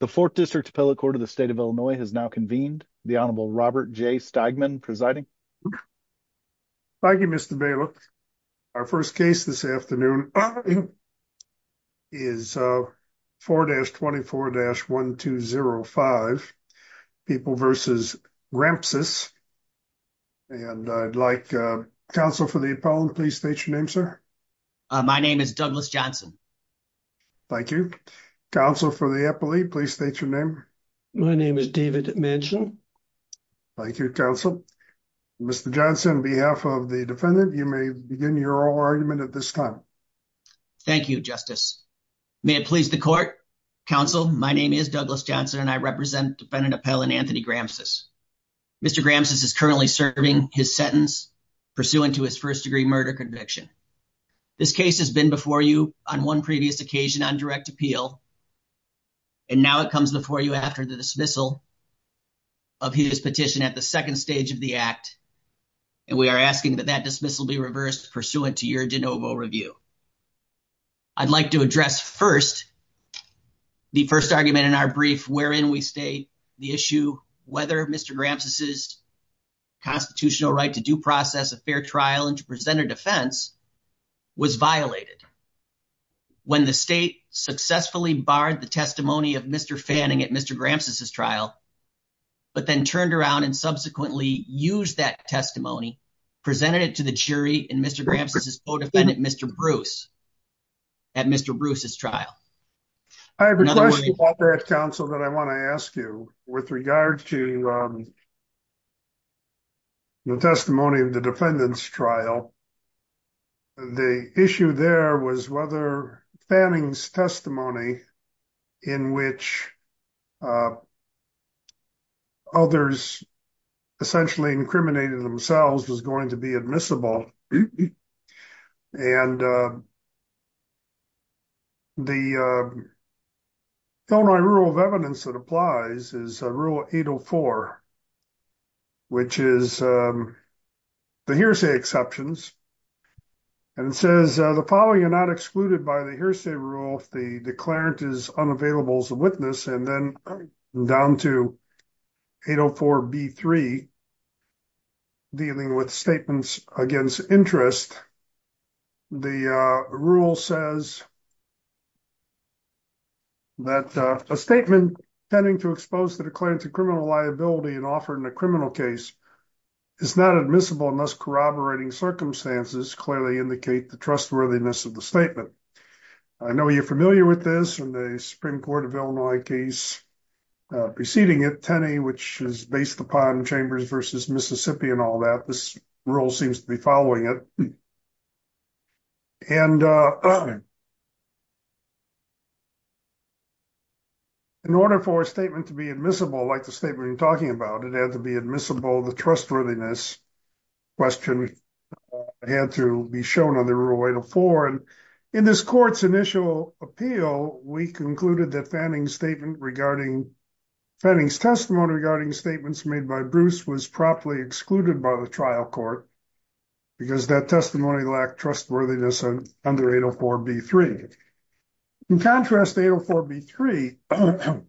The fourth district appellate court of the state of Illinois has now convened. The Honorable Robert J. Steigman presiding. Thank you, Mr. Bailiff. Our first case this afternoon is 4-24-1205, People v. Grampsas. And I'd like counsel for the appellant, please state your name, sir. My name is Douglas Johnson. Thank you. Counsel for the appellate, please state your name. My name is David Manchin. Thank you, counsel. Mr. Johnson, on behalf of the defendant, you may begin your argument at this time. Thank you, Justice. May it please the court. Counsel, my name is Douglas Johnson and I represent defendant appellant Anthony Grampsas. Mr. Grampsas is currently serving his sentence pursuant to his first degree murder conviction. This case has been before you on one previous occasion on direct appeal. And now it comes before you after the dismissal of his petition at the second stage of the act. And we are asking that that dismissal be reversed pursuant to your de novo review. I'd like to address first, the first argument in our brief, wherein we state the issue, whether Mr. Grampsas' constitutional right to due process a fair trial and to present a defense was violated. When the state successfully barred the testimony of Mr. Fanning at Mr. Grampsas' trial, but then turned around and subsequently used that testimony, presented it to the jury and Mr. Grampsas' co-defendant Mr. Bruce at Mr. Bruce's trial. I have a question about that, counsel, that I wanna ask you. With regard to the testimony of the defendant's trial, the issue there was whether Fanning's testimony in which others essentially incriminated themselves was going to be admissible. And the only rule of evidence that applies is rule 804, which is the hearsay exceptions and it says the following are not excluded by the hearsay rule if the declarant is unavailable as a witness. And then down to 804 B3, dealing with statements against interest, the rule says that a statement tending to expose the declarant to criminal liability and offered in a criminal case is not admissible unless corroborating circumstances clearly indicate the trustworthiness of the statement. I know you're familiar with this in the Supreme Court of Illinois case preceding it, Tenney, which is based upon Chambers versus Mississippi and all that, this rule seems to be following it. And in order for a statement to be admissible like the statement you're talking about, it had to be admissible, the trustworthiness question had to be shown on the rule 804 and in this court's initial appeal, we concluded that Fanning's statement regarding, Fanning's testimony regarding statements made by Bruce was properly excluded by the trial court because that testimony lacked trustworthiness under 804 B3. In contrast, 804 B3,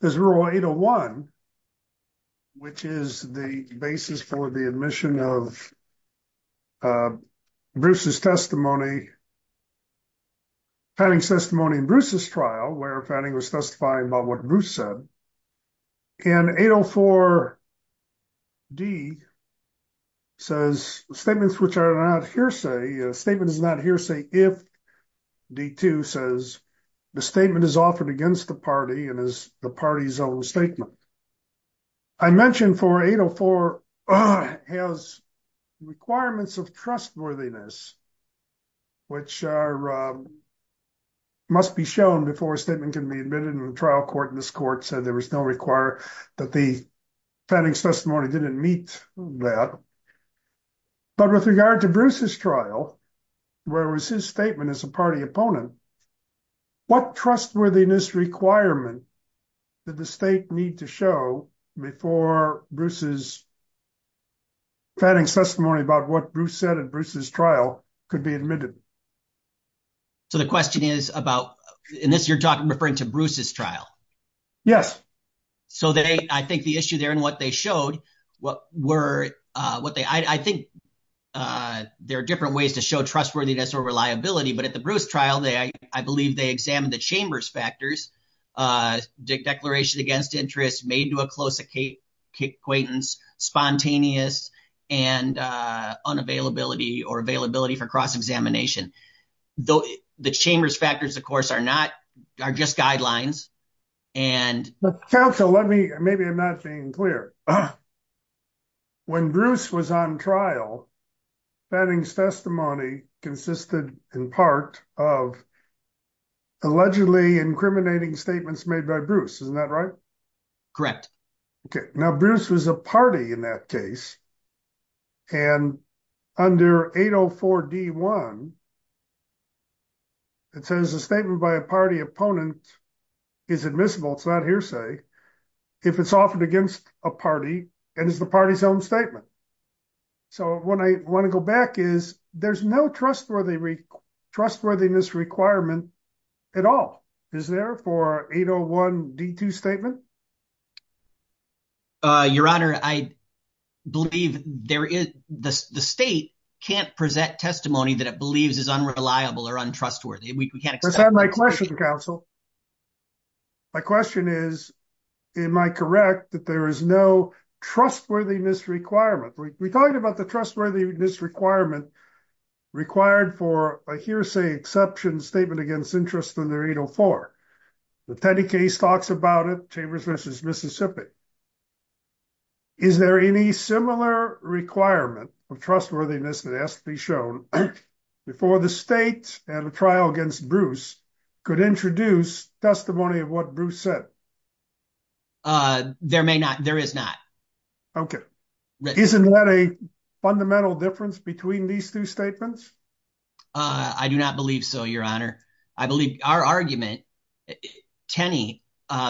there's rule 801, which is the basis for the admission of Bruce's testimony, Fanning's testimony in Bruce's trial where Fanning was testifying about what Bruce said and 804 D says statements which are not hearsay, statement is not hearsay if D2 says the statement is offered against the party and is the party's own statement. I mentioned for 804 has requirements of trustworthiness, which must be shown before a statement can be admitted in the trial court in this court said there was no require that the Fanning's testimony didn't meet that. But with regard to Bruce's trial, where it was his statement as a party opponent, what trustworthiness requirement did the state need to show before Bruce's Fanning's testimony about what Bruce said at Bruce's trial could be admitted? So the question is about, in this you're talking referring to Bruce's trial. Yes. So I think the issue there and what they showed, what were what they, I think there are different ways to show trustworthiness or reliability, but at the Bruce trial, I believe they examined the chambers factors, declaration against interest made to a close acquaintance, spontaneous and unavailability or availability for cross-examination. Though the chambers factors of course are not, are just guidelines and- Maybe I'm not being clear. When Bruce was on trial, Fanning's testimony consisted in part of allegedly incriminating statements made by Bruce. Isn't that right? Correct. Okay, now Bruce was a party in that case and under 804 D1, it says a statement by a party opponent is admissible. It's not hearsay. If it's offered against a party and it's the party's own statement. So when I want to go back is, there's no trustworthiness requirement at all. Is there for 801 D2 statement? Your honor, I believe there is, the state can't present testimony that it believes is unreliable or untrustworthy. We can't- That's not my question counsel. My question is, am I correct that there is no trustworthiness requirement? We talked about the trustworthiness requirement required for a hearsay exception statement against interest under 804. The Teddy case talks about it, Chambers v. Mississippi. Is there any similar requirement of trustworthiness that has to be shown before the state at a trial against Bruce could introduce testimony of what Bruce said? There may not, there is not. Okay. Isn't that a fundamental difference between these two statements? I do not believe so, your honor. I believe our argument, Tenney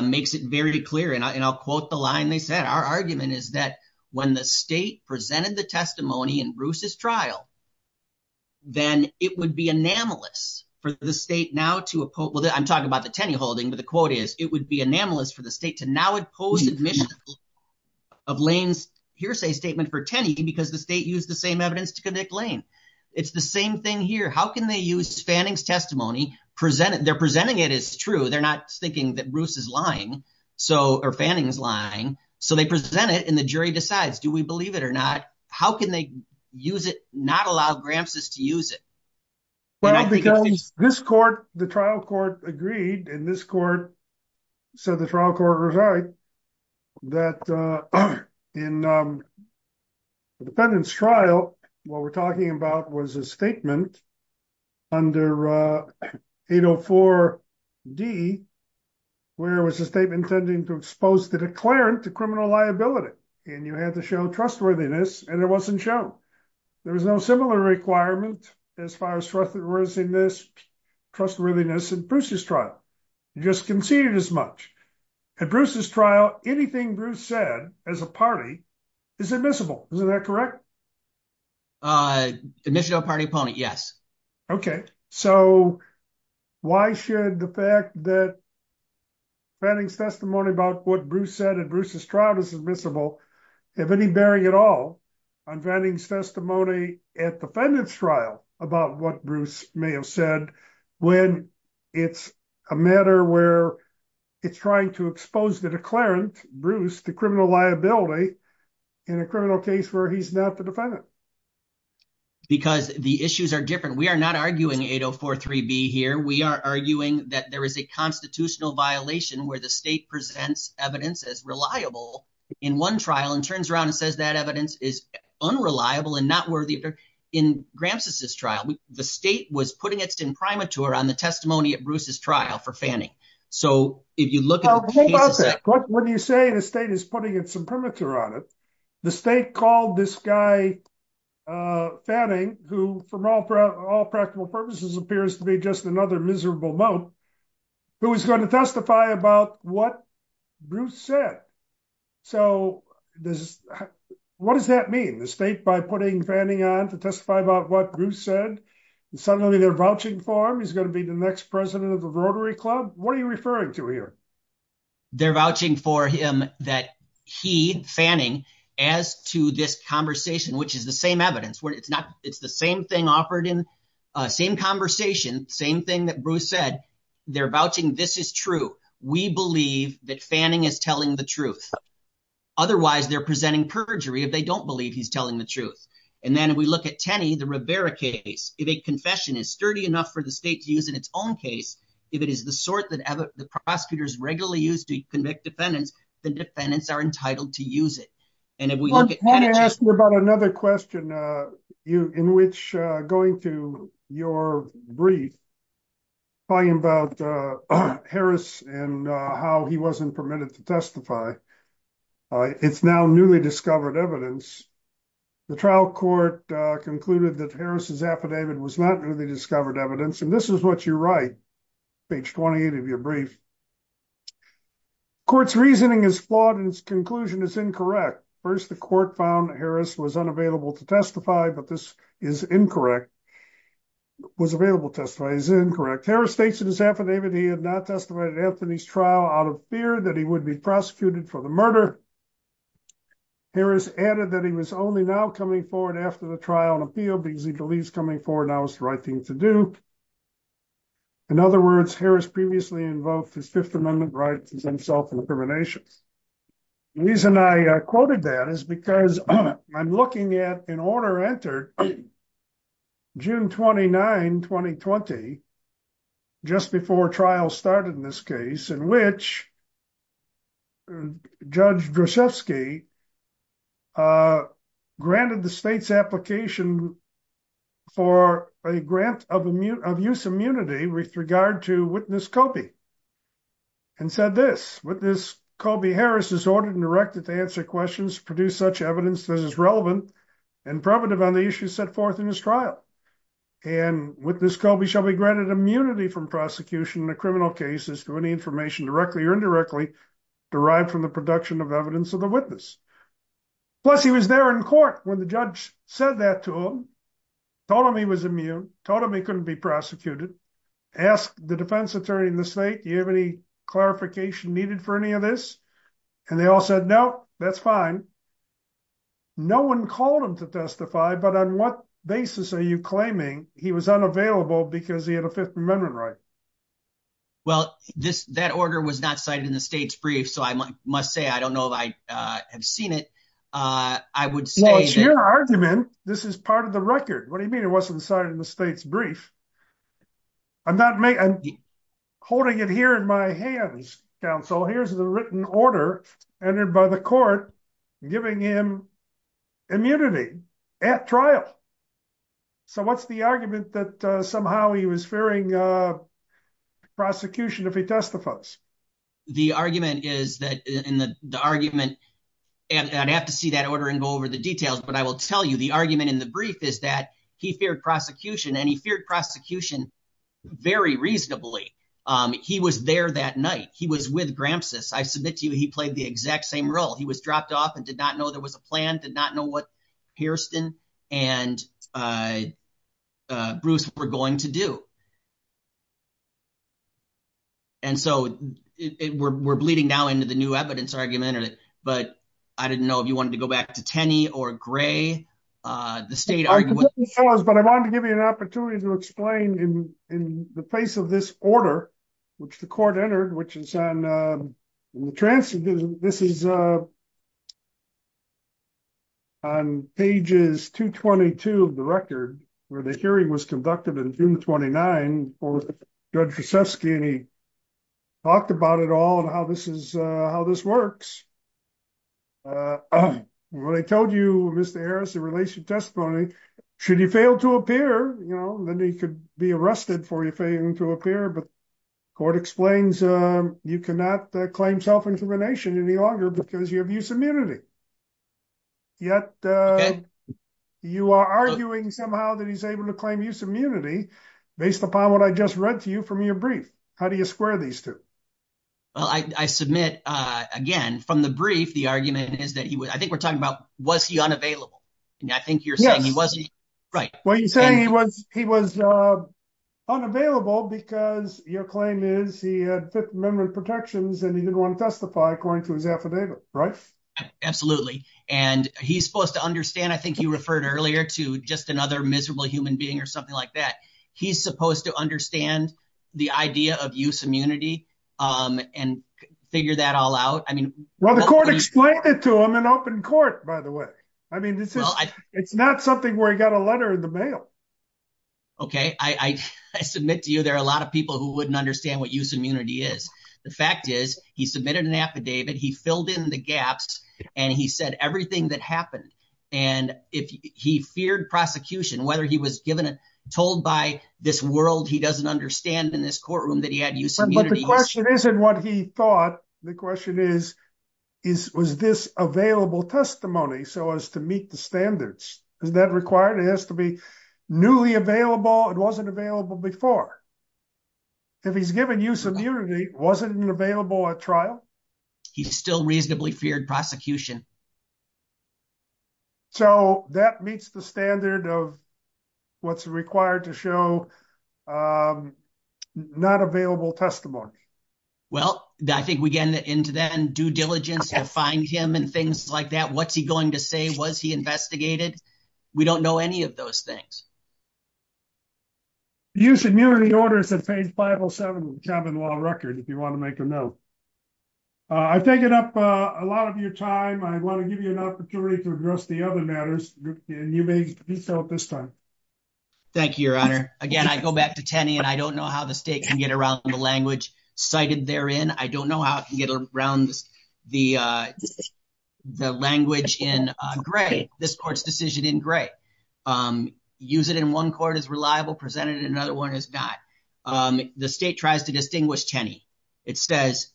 makes it very clear and I'll quote the line they said. Our argument is that when the state presented the testimony in Bruce's trial, then it would be anomalous for the state now to oppose, I'm talking about the Tenney holding, but the quote is, it would be anomalous for the state to now oppose admission of Lane's hearsay statement for Tenney because the state used the same evidence to convict Lane. It's the same thing here. How can they use Fanning's testimony, they're presenting it as true, they're not thinking that Bruce is lying, or Fanning is lying. So they present it and the jury decides, do we believe it or not? How can they use it, not allow Gramps's to use it? Well, because this court, the trial court agreed and this court, so the trial court was right, that in the defendant's trial, what we're talking about was a statement under 804 D, where it was a statement intending to expose the declarant to criminal liability. And you had to show trustworthiness and it wasn't shown. There was no similar requirement as far as trustworthiness in Bruce's trial. You just conceded as much. At Bruce's trial, anything Bruce said as a party is admissible, isn't that correct? Admission of party opponent, yes. Okay, so why should the fact that Fanning's testimony about what Bruce said at Bruce's trial is admissible, have any bearing at all on Fanning's testimony at defendant's trial about what Bruce may have said when it's a matter where it's trying to expose the declarant, Bruce, to criminal liability in a criminal case where he's not the defendant? Because the issues are different. We are not arguing 804 3B here. We are arguing that there is a constitutional violation where the state presents evidence as reliable in one trial and turns around and says that evidence is unreliable and not worthy. In Gramsci's trial, the state was putting it in primature on the testimony at Bruce's trial for Fanning. So if you look at the cases that- What do you say the state is putting in some primature on it? The state called this guy Fanning, who from all practical purposes appears to be just another miserable moat, who is gonna testify about what Bruce said. So what does that mean? The state by putting Fanning on to testify about what Bruce said, and suddenly they're vouching for him, he's gonna be the next president of the Rotary Club? What are you referring to here? They're vouching for him that he, Fanning, as to this conversation, which is the same evidence, where it's the same thing offered in, same conversation, same thing that Bruce said, they're vouching this is true. We believe that Fanning is telling the truth. Otherwise they're presenting perjury if they don't believe he's telling the truth. And then we look at Tenney, the Rivera case. If a confession is sturdy enough for the state to use in its own case, if it is the sort that the prosecutors regularly use to convict defendants, the defendants are entitled to use it. And if we look at- I wanna ask you about another question, in which, going to your brief, probably about Harris and how he wasn't permitted to testify, it's now newly discovered evidence. The trial court concluded that Harris's affidavit was not newly discovered evidence, and this is what you write, page 28 of your brief. Court's reasoning is flawed and its conclusion is incorrect. First, the court found Harris was unavailable to testify, but this is incorrect. Was available to testify is incorrect. Harris states in his affidavit, he had not testified at Anthony's trial out of fear that he would be prosecuted for the murder. Harris added that he was only now coming forward after the trial and appeal because he believes coming forward now is the right thing to do. In other words, Harris previously invoked his Fifth Amendment rights as himself in the terminations. The reason I quoted that is because I'm looking at an order entered June 29, 2020, just before trial started in this case, in which Judge Droshefsky granted the state's application for a grant of use immunity with regard to witness Coby, and said this, with this, Coby Harris is ordered and directed to answer questions, produce such evidence that is relevant and preventive on the issues set forth in his trial. And with this, Coby shall be granted immunity from prosecution in a criminal case as to any information directly or indirectly derived from the production of evidence of the witness. Plus he was there in court when the judge said that to him, told him he was immune, told him he couldn't be prosecuted, asked the defense attorney in the state, do you have any clarification needed for any of this? And they all said, no, that's fine. No one called him to testify, but on what basis are you claiming he was unavailable because he had a Fifth Amendment right? Well, that order was not cited in the state's brief. So I must say, I don't know if I have seen it. I would say that- Well, it's your argument. This is part of the record. What do you mean it wasn't cited in the state's brief? I'm not holding it here in my hands, counsel. Here's the written order entered by the court giving him immunity at trial. So what's the argument that somehow he was fearing prosecution if he testifies? The argument is that in the argument, and I'd have to see that order and go over the details, but I will tell you the argument in the brief is that he feared prosecution and he feared prosecution very reasonably. He was there that night. He was with Grampsus. I submit to you, he played the exact same role. He was dropped off and did not know there was a plan, did not know what Hairston and Bruce were going to do. And so we're bleeding now into the new evidence argument, but I didn't know if you wanted to go back to Tenney or Gray. The state argument- But I wanted to give you an opportunity to explain in the face of this order, which the court entered, which is on, this is on pages 222 of the record where the hearing was conducted in June 29 for Judge Rusevsky and he talked about it all and how this works. What I told you, Mr. Harris, the relationship testimony, should he fail to appear, then he could be arrested for failing to appear, but court explains you cannot claim self-incrimination any longer because you have use immunity. Yet you are arguing somehow that he's able to claim use immunity based upon what I just read to you from your brief. How do you square these two? Well, I submit, again, from the brief, the argument is that he would, I think we're talking about, was he unavailable? And I think you're saying he wasn't, right. Well, you're saying he was unavailable because your claim is he had fit memory protections and he didn't wanna testify according to his affidavit, right? Absolutely. And he's supposed to understand, I think you referred earlier to just another miserable human being or something like that. He's supposed to understand the idea of use immunity and figure that all out. I mean- Well, the court explained it to him in open court, by the way. I mean, it's not something where he got a letter in the mail. Okay, I submit to you, there are a lot of people who wouldn't understand what use immunity is. The fact is he submitted an affidavit, he filled in the gaps and he said everything that happened. And if he feared prosecution, whether he was given, told by this world, he doesn't understand in this courtroom that he had use immunity. But the question isn't what he thought, the question is, was this available testimony so as to meet the standards? Is that required? It has to be newly available. It wasn't available before. If he's given use immunity, wasn't it available at trial? He still reasonably feared prosecution. So that meets the standard of what's required to show not available testimony. Well, I think we get into that and due diligence to find him and things like that. What's he going to say? Was he investigated? We don't know any of those things. Use immunity orders at page 507 of the Chapman Law Record if you want to make a note. I've taken up a lot of your time. I want to give you an opportunity to address the other matters. And you may be so at this time. Thank you, Your Honor. Again, I go back to Tenney and I don't know how the state can get around the language cited therein. I don't know how it can get around the language in Gray. This court's decision in Gray. Use it in one court is reliable, presented in another one is not. The state tries to distinguish Tenney. It says,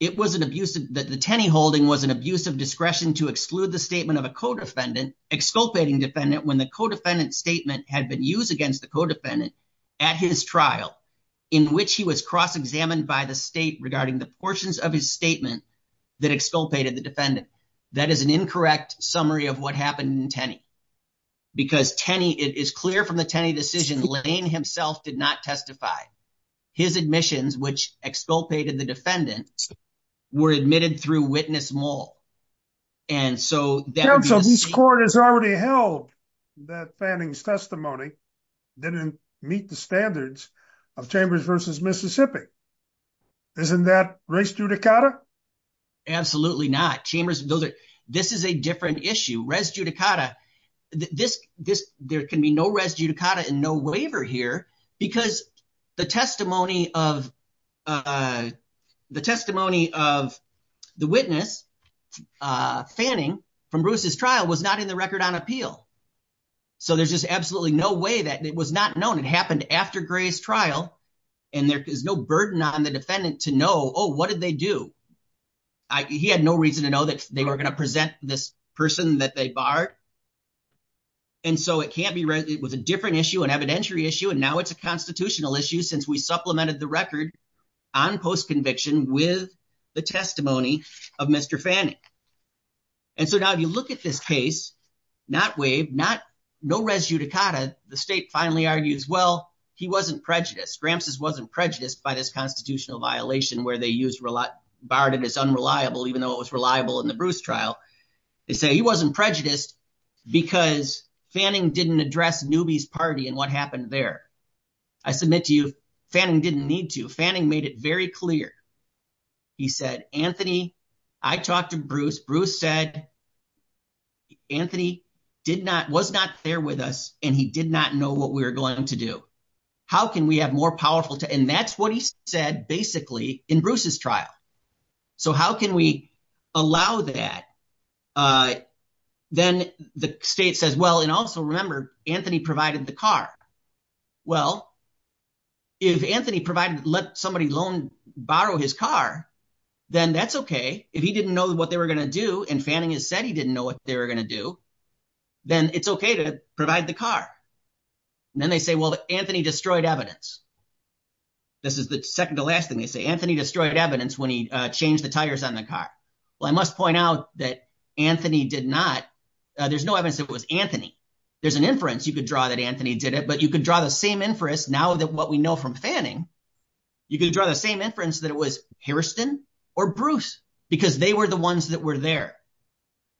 the Tenney holding was an abuse of discretion to exclude the statement of a co-defendant, exculpating defendant when the co-defendant statement had been used against the co-defendant at his trial in which he was cross-examined by the state regarding the portions of his statement that exculpated the defendant. That is an incorrect summary of what happened in Tenney. Because Tenney, it is clear from the Tenney decision, Lane himself did not testify. His admissions, which exculpated the defendant, were admitted through witness mull. And so that would be the- Counsel, this court has already held that Fanning's testimony didn't meet the standards of Chambers versus Mississippi. Isn't that race judicata? Absolutely not. This is a different issue. Race judicata, there can be no race judicata and no waiver here because the testimony of the witness, Fanning, from Bruce's trial was not in the record on appeal. So there's just absolutely no way that it was not known. It happened after Gray's trial. And there is no burden on the defendant to know, oh, what did they do? He had no reason to know that they were gonna present this person that they barred. And so it was a different issue, an evidentiary issue, and now it's a constitutional issue since we supplemented the record on post-conviction with the testimony of Mr. Fanning. And so now if you look at this case, not waived, no race judicata, the state finally argues, well, he wasn't prejudiced. Gramps's wasn't prejudiced by this constitutional violation where they used barred as unreliable even though it was reliable in the Bruce trial. They say he wasn't prejudiced because Fanning didn't address Newby's party and what happened there. I submit to you, Fanning didn't need to. Fanning made it very clear. He said, Anthony, I talked to Bruce. Bruce said, Anthony was not there with us and he did not know what we were going to do. How can we have more powerful? And that's what he said basically in Bruce's trial. So how can we allow that? Then the state says, well, and also remember, Anthony provided the car. Well, if Anthony let somebody borrow his car, then that's okay. If he didn't know what they were gonna do and Fanning has said he didn't know what they were gonna do, then it's okay to provide the car. And then they say, well, Anthony destroyed evidence. This is the second to last thing they say. Anthony destroyed evidence when he changed the tires on the car. Well, I must point out that Anthony did not. There's no evidence that it was Anthony. There's an inference you could draw that Anthony did it, but you could draw the same inference now that what we know from Fanning, you could draw the same inference that it was Hairston or Bruce because they were the ones that were there.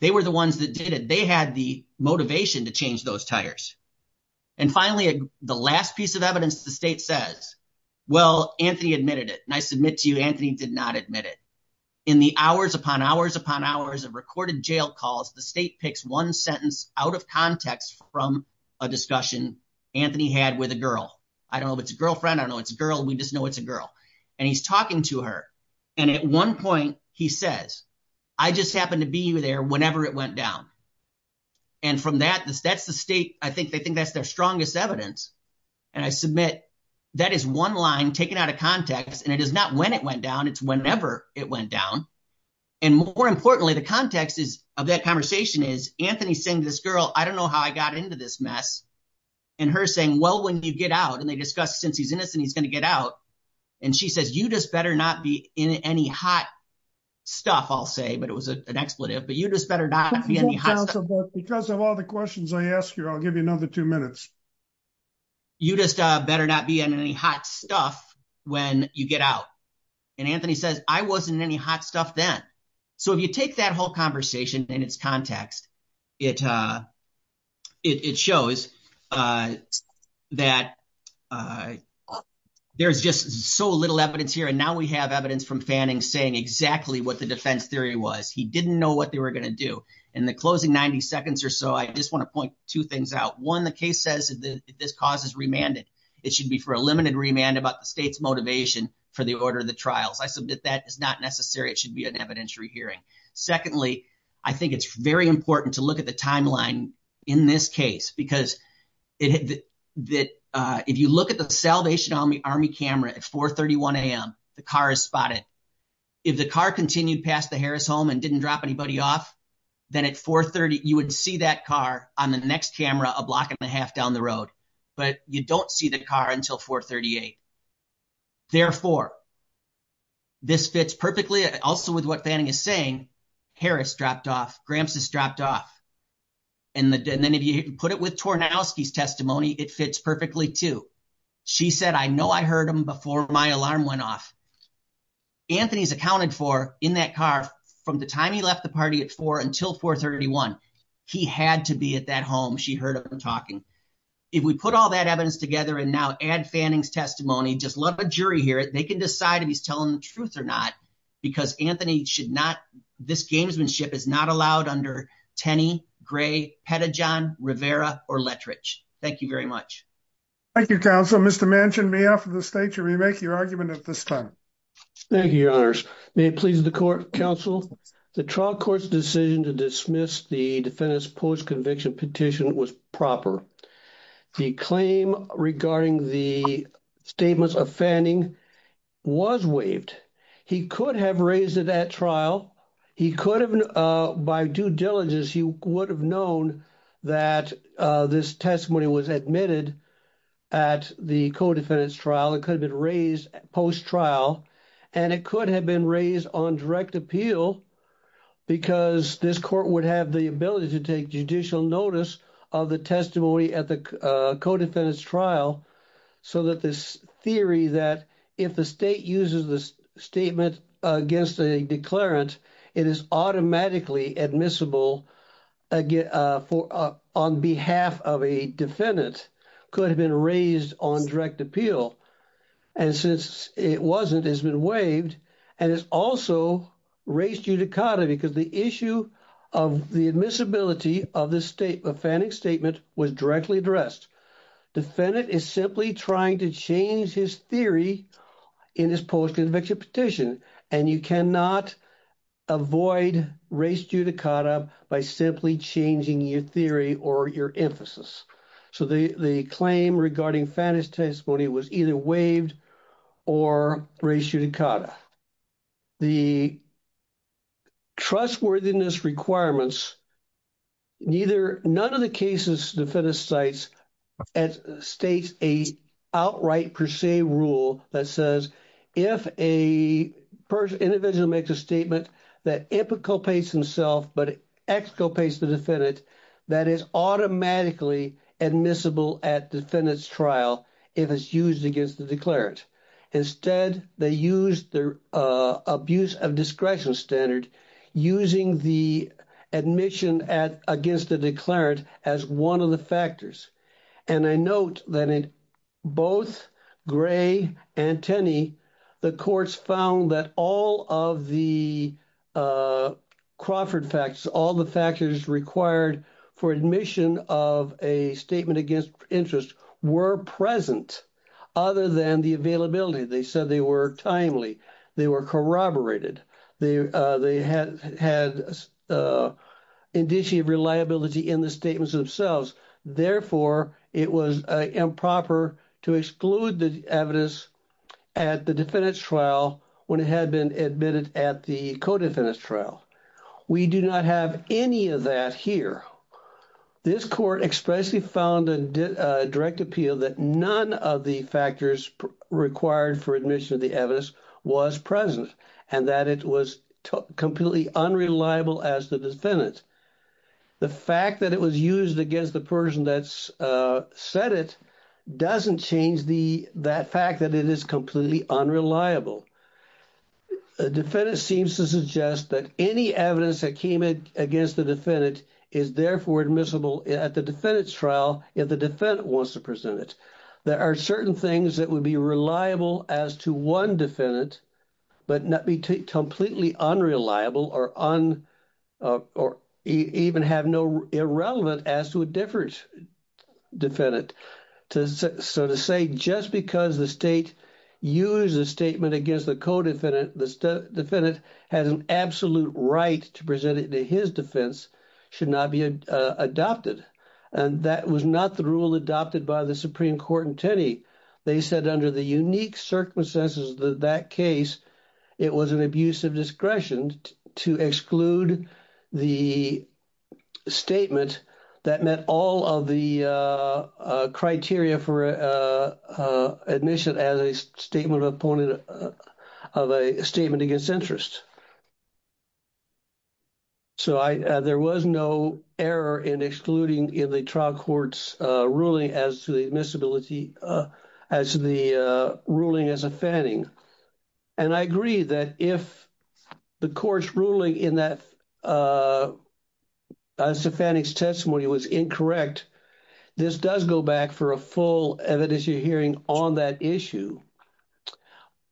They were the ones that did it. They had the motivation to change those tires. And finally, the last piece of evidence, the state says, well, Anthony admitted it. And I submit to you, Anthony did not admit it. In the hours upon hours upon hours of recorded jail calls, the state picks one sentence out of context from a discussion Anthony had with a girl. I don't know if it's a girlfriend. I don't know if it's a girl. We just know it's a girl. And he's talking to her. And at one point he says, I just happened to be there whenever it went down. And from that, that's the state, I think they think that's their strongest evidence. And I submit that is one line taken out of context and it is not when it went down, it's whenever it went down. And more importantly, the context of that conversation is Anthony saying to this girl, I don't know how I got into this mess. And her saying, well, when you get out, and they discussed since he's innocent, he's gonna get out. And she says, you just better not be in any hot stuff I don't know what you all say, but it was an expletive, but you just better not be in any hot stuff. Because of all the questions I ask you, I'll give you another two minutes. You just better not be in any hot stuff when you get out. And Anthony says, I wasn't in any hot stuff then. So if you take that whole conversation in its context, it shows that there's just so little evidence here. And now we have evidence from Fanning saying exactly what the defense theory was. He didn't know what they were gonna do. In the closing 90 seconds or so, I just wanna point two things out. One, the case says that this cause is remanded. It should be for a limited remand about the state's motivation for the order of the trials. I submit that is not necessary. It should be an evidentiary hearing. Secondly, I think it's very important to look at the timeline in this case, because if you look at the Salvation Army camera at 4.31 a.m., the car is spotted. If the car continued past the Harris home and didn't drop anybody off, then at 4.30, you would see that car on the next camera a block and a half down the road, but you don't see the car until 4.38. Therefore, this fits perfectly also with what Fanning is saying. Harris dropped off, Gramps has dropped off. And then if you put it with Tornowski's testimony, it fits perfectly too. She said, I know I heard him before my alarm went off. Anthony's accounted for in that car from the time he left the party at four until 4.31. He had to be at that home. She heard him talking. If we put all that evidence together and now add Fanning's testimony, just let a jury hear it. They can decide if he's telling the truth or not, because Anthony should not, this gamesmanship is not allowed under Tenney, Gray, Pettijohn, Rivera, or Lettrich. Thank you very much. Thank you, counsel. Mr. Manchin, may I offer the state to remake your argument at this time? Thank you, your honors. May it please the court, counsel. The trial court's decision to dismiss the defendant's post-conviction petition was proper. The claim regarding the statements of Fanning was waived. He could have raised it at trial. He could have, by due diligence, he would have known that this testimony was admitted at the co-defendant's trial. It could have been raised post-trial, and it could have been raised on direct appeal because this court would have the ability to take judicial notice of the testimony at the co-defendant's trial, so that this theory that if the state uses the statement against a declarant, it is automatically admissible on behalf of a defendant, could have been raised on direct appeal, and since it wasn't, it's been waived, and it's also res judicata because the issue of the admissibility of Fanning's statement was directly addressed. Defendant is simply trying to change his theory in his post-conviction petition, and you cannot avoid res judicata by simply changing your theory or your emphasis. So the claim regarding Fanning's testimony was either waived or res judicata. The trustworthiness requirements, neither, none of the cases defendant cites as states a outright per se rule that says if a person, individual makes a statement that implicates himself but exculpates the defendant, that is automatically admissible at defendant's trial if it's used against the declarant. Instead, they used the abuse of discretion standard using the admission against the declarant as one of the factors, and I note that in both Gray and Tenney, the courts found that all of the Crawford facts, all the factors required for admission of a statement against interest were present other than the availability. They said they were timely, they were corroborated, they had indicia of reliability in the statements themselves. Therefore, it was improper to exclude the evidence at the defendant's trial when it had been admitted at the co-defendant's trial. We do not have any of that here. This court expressly found a direct appeal that none of the factors required for admission of the evidence was present and that it was completely unreliable as the defendant. The fact that it was used against the person that said it doesn't change that fact that it is completely unreliable. The defendant seems to suggest that any evidence that came against the defendant is therefore admissible at the defendant's trial if the defendant wants to present it. There are certain things that would be reliable as to one defendant, but not be completely unreliable or even have no irrelevant as to a different defendant. So to say just because the state used a statement against the co-defendant, the defendant has an absolute right to present it to his defense should not be adopted. And that was not the rule adopted by the Supreme Court in Tenney. They said under the unique circumstances of that case, it was an abuse of discretion to exclude the statement that met all of the criteria for admission as a statement of a statement against interest. So there was no error in excluding in the trial court's ruling as to the admissibility as the ruling as a fanning. And I agree that if the court's ruling in that as a fanning's testimony was incorrect, this does go back for a full evidence hearing on that issue.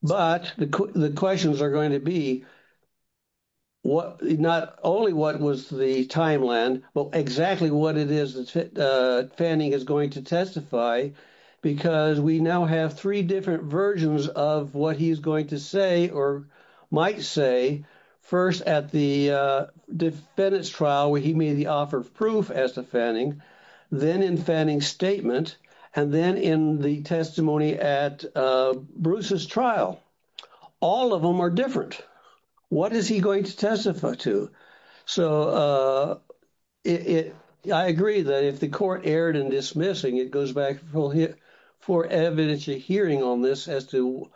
But the questions are going to be, not only what was the timeline, but exactly what it is that Fanning is going to testify because we now have three different versions of what he's going to say or might say, first at the defendant's trial where he made the offer of proof as to Fanning, then in Fanning's statement, and then in the testimony at Bruce's trial. All of them are different. What is he going to testify to? So I agree that if the court erred in dismissing, it goes back for evidence hearing on this as to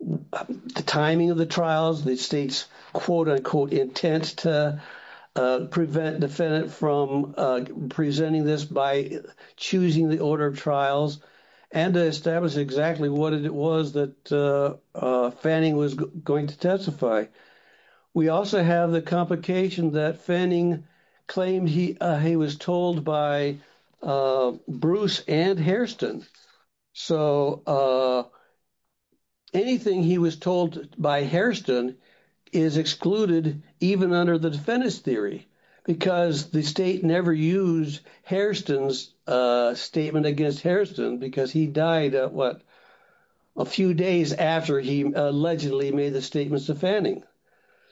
the timing of the trials, the state's quote unquote intent to prevent defendant from presenting this by choosing the order of trials and to establish exactly what it was that Fanning was going to testify. We also have the complication that Fanning claimed he was told by Bruce and Hairston. So anything he was told by Hairston is excluded even under the defendant's theory because the state never used Hairston's statement against Hairston because he died, what, a few days after he allegedly made the statements to Fanning.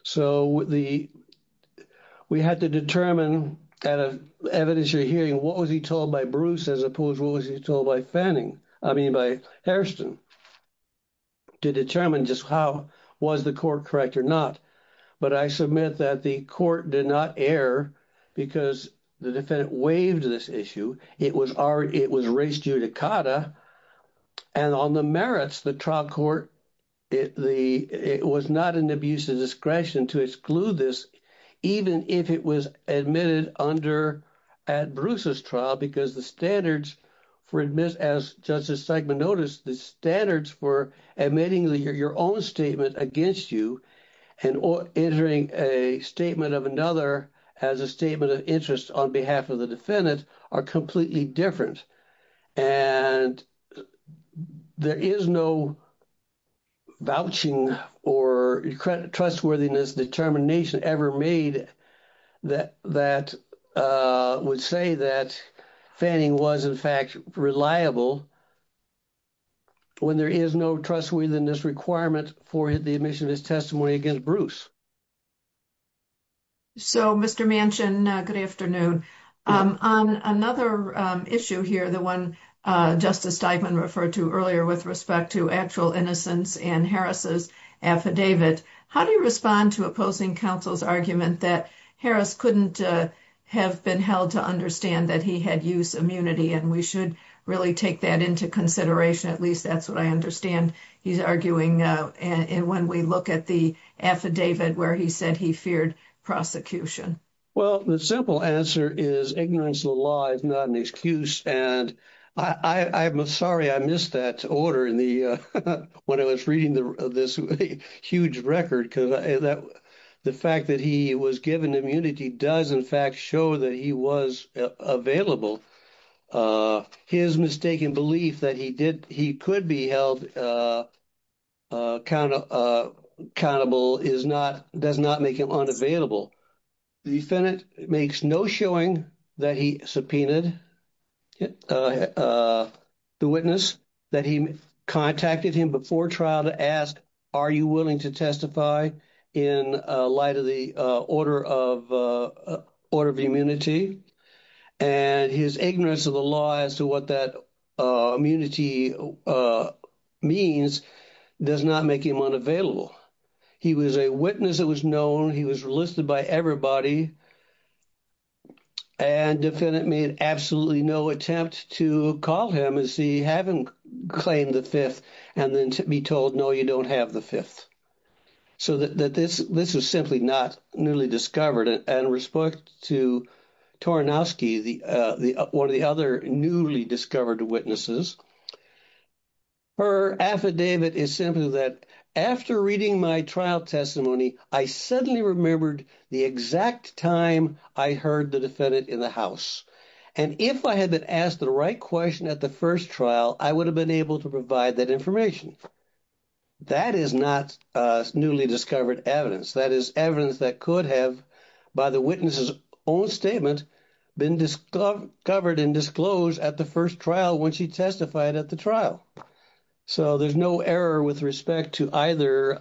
So we had to determine at an evidence hearing, what was he told by Bruce as opposed to what was he told by Fanning, I mean by Hairston, to determine just how was the court correct or not. But I submit that the court did not err because the defendant waived this issue. It was race judicata and on the merits, the trial court, it was not an abuse of discretion to exclude this, even if it was admitted under at Bruce's trial, because the standards for admit, as Justice Segman noticed, the standards for admitting your own statement against you and entering a statement of another as a statement of interest on behalf of the defendant are completely different. And there is no vouching or trustworthiness determination ever made that would say that Fanning was in fact reliable when there is no trustworthiness requirement for the admission of his testimony against Bruce. So Mr. Manchin, good afternoon. On another issue here, the one Justice Steigman referred to earlier with respect to actual innocence and Harris's affidavit, how do you respond to opposing counsel's argument that Harris couldn't have been held to understand that he had use immunity and we should really take that into consideration, at least that's what I understand he's arguing when we look at the affidavit where he said he feared prosecution? Well, the simple answer is ignorance of the law is not an excuse. And I'm sorry I missed that order when I was reading this huge record because the fact that he was given immunity does in fact show that he was available. His mistaken belief that he could be held kind of accountable does not make him unavailable. The defendant makes no showing that he subpoenaed the witness that he contacted him before trial to ask, are you willing to testify in light of the order of immunity? And his ignorance of the law as to what that immunity means does not make him unavailable. He was a witness that was known, he was listed by everybody and defendant made absolutely no attempt to call him as he haven't claimed the fifth and then to be told, no, you don't have the fifth. So that this was simply not newly discovered and respect to Tarnowski, one of the other newly discovered witnesses. Her affidavit is simply that after reading my trial testimony, I suddenly remembered the exact time I heard the defendant in the house. And if I had been asked the right question at the first trial, I would have been able to provide that information. That is not newly discovered evidence. That is evidence that could have by the witness's own statement been covered and disclosed at the first trial when she testified at the trial. So there's no error with respect to either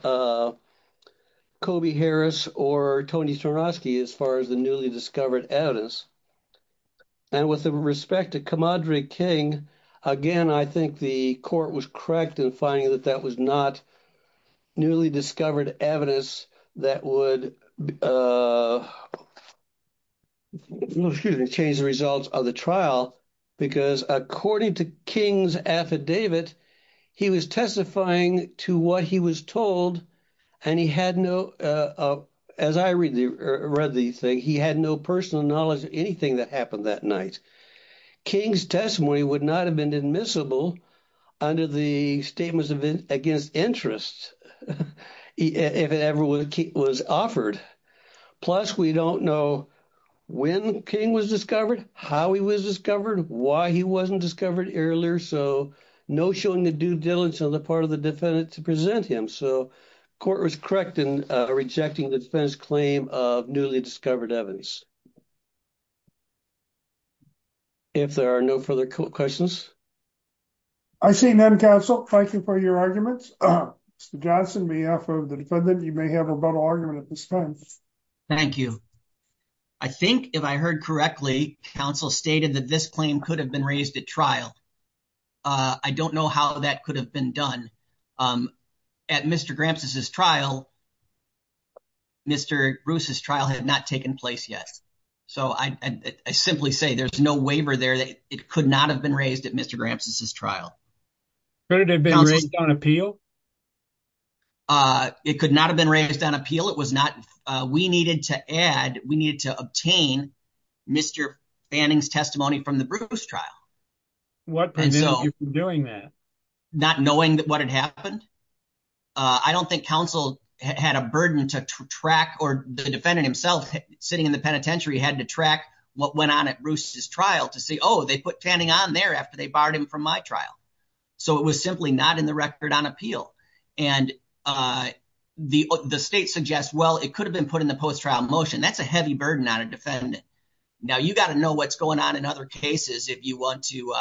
Kobe Harris or Tony Tarnowski as far as the newly discovered evidence. And with the respect to Kamadri King, again, I think the court was correct in finding that that was not newly discovered evidence that would, excuse me, change the results of the trial because according to King's affidavit, he was testifying to what he was told and he had no, as I read the thing, he had no personal knowledge of anything that happened that night. King's testimony would not have been admissible under the Statements Against Interest if it ever was offered. Plus we don't know when King was discovered, how he was discovered, why he wasn't discovered earlier. So no showing the due diligence on the part of the defendant to present him. So court was correct in rejecting the defendant's claim of newly discovered evidence. If there are no further questions. I see none, counsel. Thank you for your arguments. Mr. Johnson, may I offer the defendant, you may have a rebuttal argument at this time. Thank you. I think if I heard correctly, counsel stated that this claim could have been raised at trial. I don't know how that could have been done. At Mr. Gramsci's trial, Mr. Bruce's trial had not taken place yet. So I simply say there's no waiver there. It could not have been raised at Mr. Gramsci's trial. Could it have been raised on appeal? It could not have been raised on appeal. We needed to add, we needed to obtain Mr. Fanning's testimony from the Bruce trial. What prevented you from doing that? Not knowing that what had happened. I don't think counsel had a burden to track or the defendant himself sitting in the penitentiary had to track what went on at Bruce's trial to say, oh, they put Fanning on there after they barred him from my trial. So it was simply not in the record on appeal. And the state suggests, well, it could have been put in the post-trial motion. That's a heavy burden on a defendant. Now you gotta know what's going on in other cases if you want to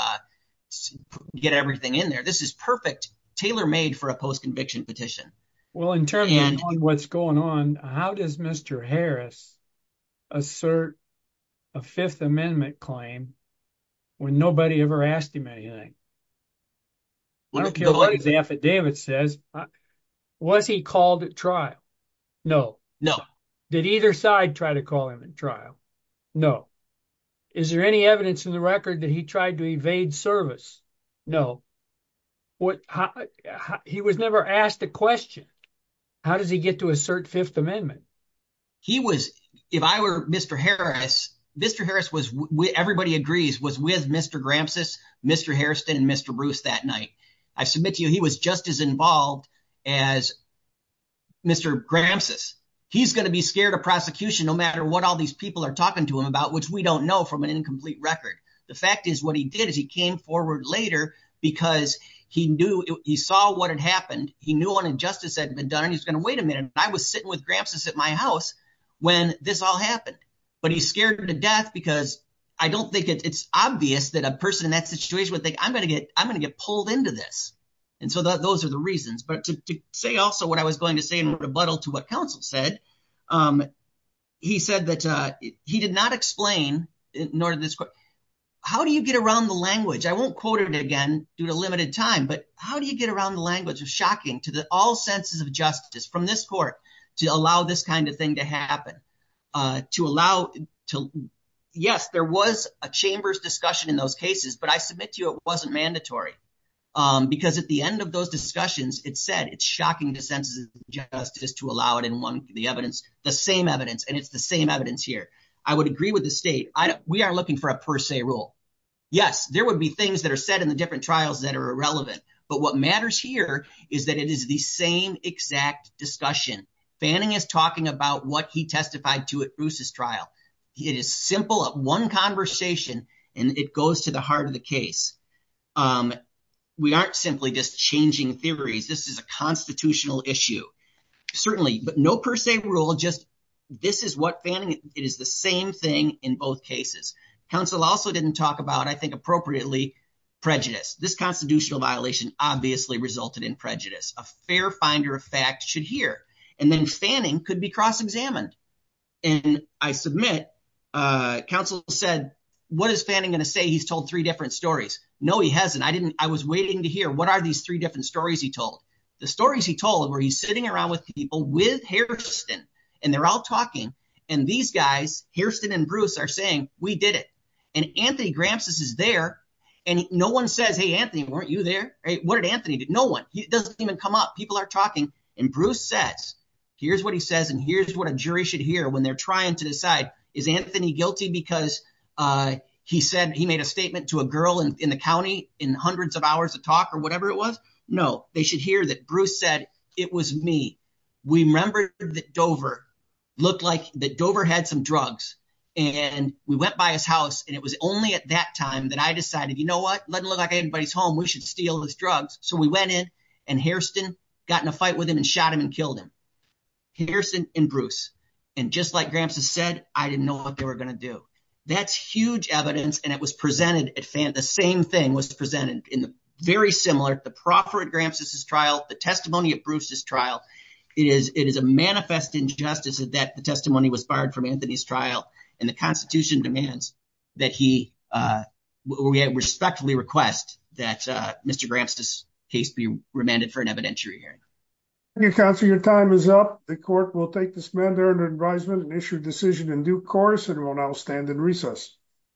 get everything in there. This is perfect, tailor-made for a post-conviction petition. Well, in terms of what's going on, how does Mr. Harris assert a Fifth Amendment claim when nobody ever asked him anything? I don't care what his affidavit says. Was he called at trial? No. No. Did either side try to call him in trial? No. Is there any evidence in the record that he tried to evade service? No. He was never asked a question. How does he get to assert Fifth Amendment? He was, if I were Mr. Harris, Mr. Harris was, everybody agrees, was with Mr. Gramsci, Mr. Harrison, and Mr. Bruce that night. I submit to you, he was just as involved as Mr. Gramsci. He's gonna be scared of prosecution no matter what all these people are talking to him about, which we don't know from an incomplete record. The fact is what he did is he came forward later because he saw what had happened, he knew an injustice had been done, and he's gonna, wait a minute, I was sitting with Gramsci at my house when this all happened. But he's scared to death because I don't think it's obvious that a person in that situation would think, I'm gonna get pulled into this. And so those are the reasons. But to say also what I was going to say in rebuttal to what counsel said, he said that he did not explain, nor did this court, how do you get around the language? I won't quote it again due to limited time, but how do you get around the language? It was shocking to all senses of justice from this court to allow this kind of thing to happen, to allow, yes, there was a chamber's discussion in those cases, but I submit to you, it wasn't mandatory. Because at the end of those discussions, it said it's shocking to senses of justice to allow it in one of the evidence, the same evidence, and it's the same evidence here. I would agree with the state. We aren't looking for a per se rule. Yes, there would be things that are said in the different trials that are irrelevant. But what matters here is that it is the same exact discussion. Fanning is talking about what he testified to at Bruce's trial. It is simple, one conversation, and it goes to the heart of the case. We aren't simply just changing theories. This is a constitutional issue. Certainly, but no per se rule, just this is what Fanning, it is the same thing in both cases. Counsel also didn't talk about, I think appropriately, prejudice. This constitutional violation obviously resulted in prejudice. A fair finder of fact should hear. And then Fanning could be cross-examined. And I submit, counsel said, what is Fanning gonna say? He's told three different stories. No, he hasn't. I was waiting to hear what are these three different stories he told? The stories he told were he's sitting around with people with Hairston, and they're all talking, and these guys, Hairston and Bruce, are saying, we did it. And Anthony Gramsci is there, and no one says, hey, Anthony, weren't you there? What did Anthony do? No one. It doesn't even come up. People are talking. And Bruce says, here's what he says, and here's what a jury should hear when they're trying to decide, is Anthony guilty because he said he made a statement to a girl in the county in hundreds of hours of talk, or whatever it was? No, they should hear that Bruce said, it was me. We remembered that Dover looked like that Dover had some drugs. And we went by his house, and it was only at that time that I decided, you know what? Let it look like anybody's home. We should steal his drugs. So we went in, and Hairston got in a fight with him, and shot him and killed him. Hairston and Bruce. And just like Gramsci said, I didn't know what they were gonna do. That's huge evidence, and it was presented at, the same thing was presented in the very similar, the proffer at Gramsci's trial, the testimony of Bruce's trial. It is a manifest injustice that the testimony was fired from Anthony's trial, and the constitution demands that he, we respectfully request that Mr. Gramsci's case be remanded for an evidentiary hearing. Thank you, counsel. Your time is up. The court will take this mandatory advisement and issue a decision in due course, and will now stand in recess.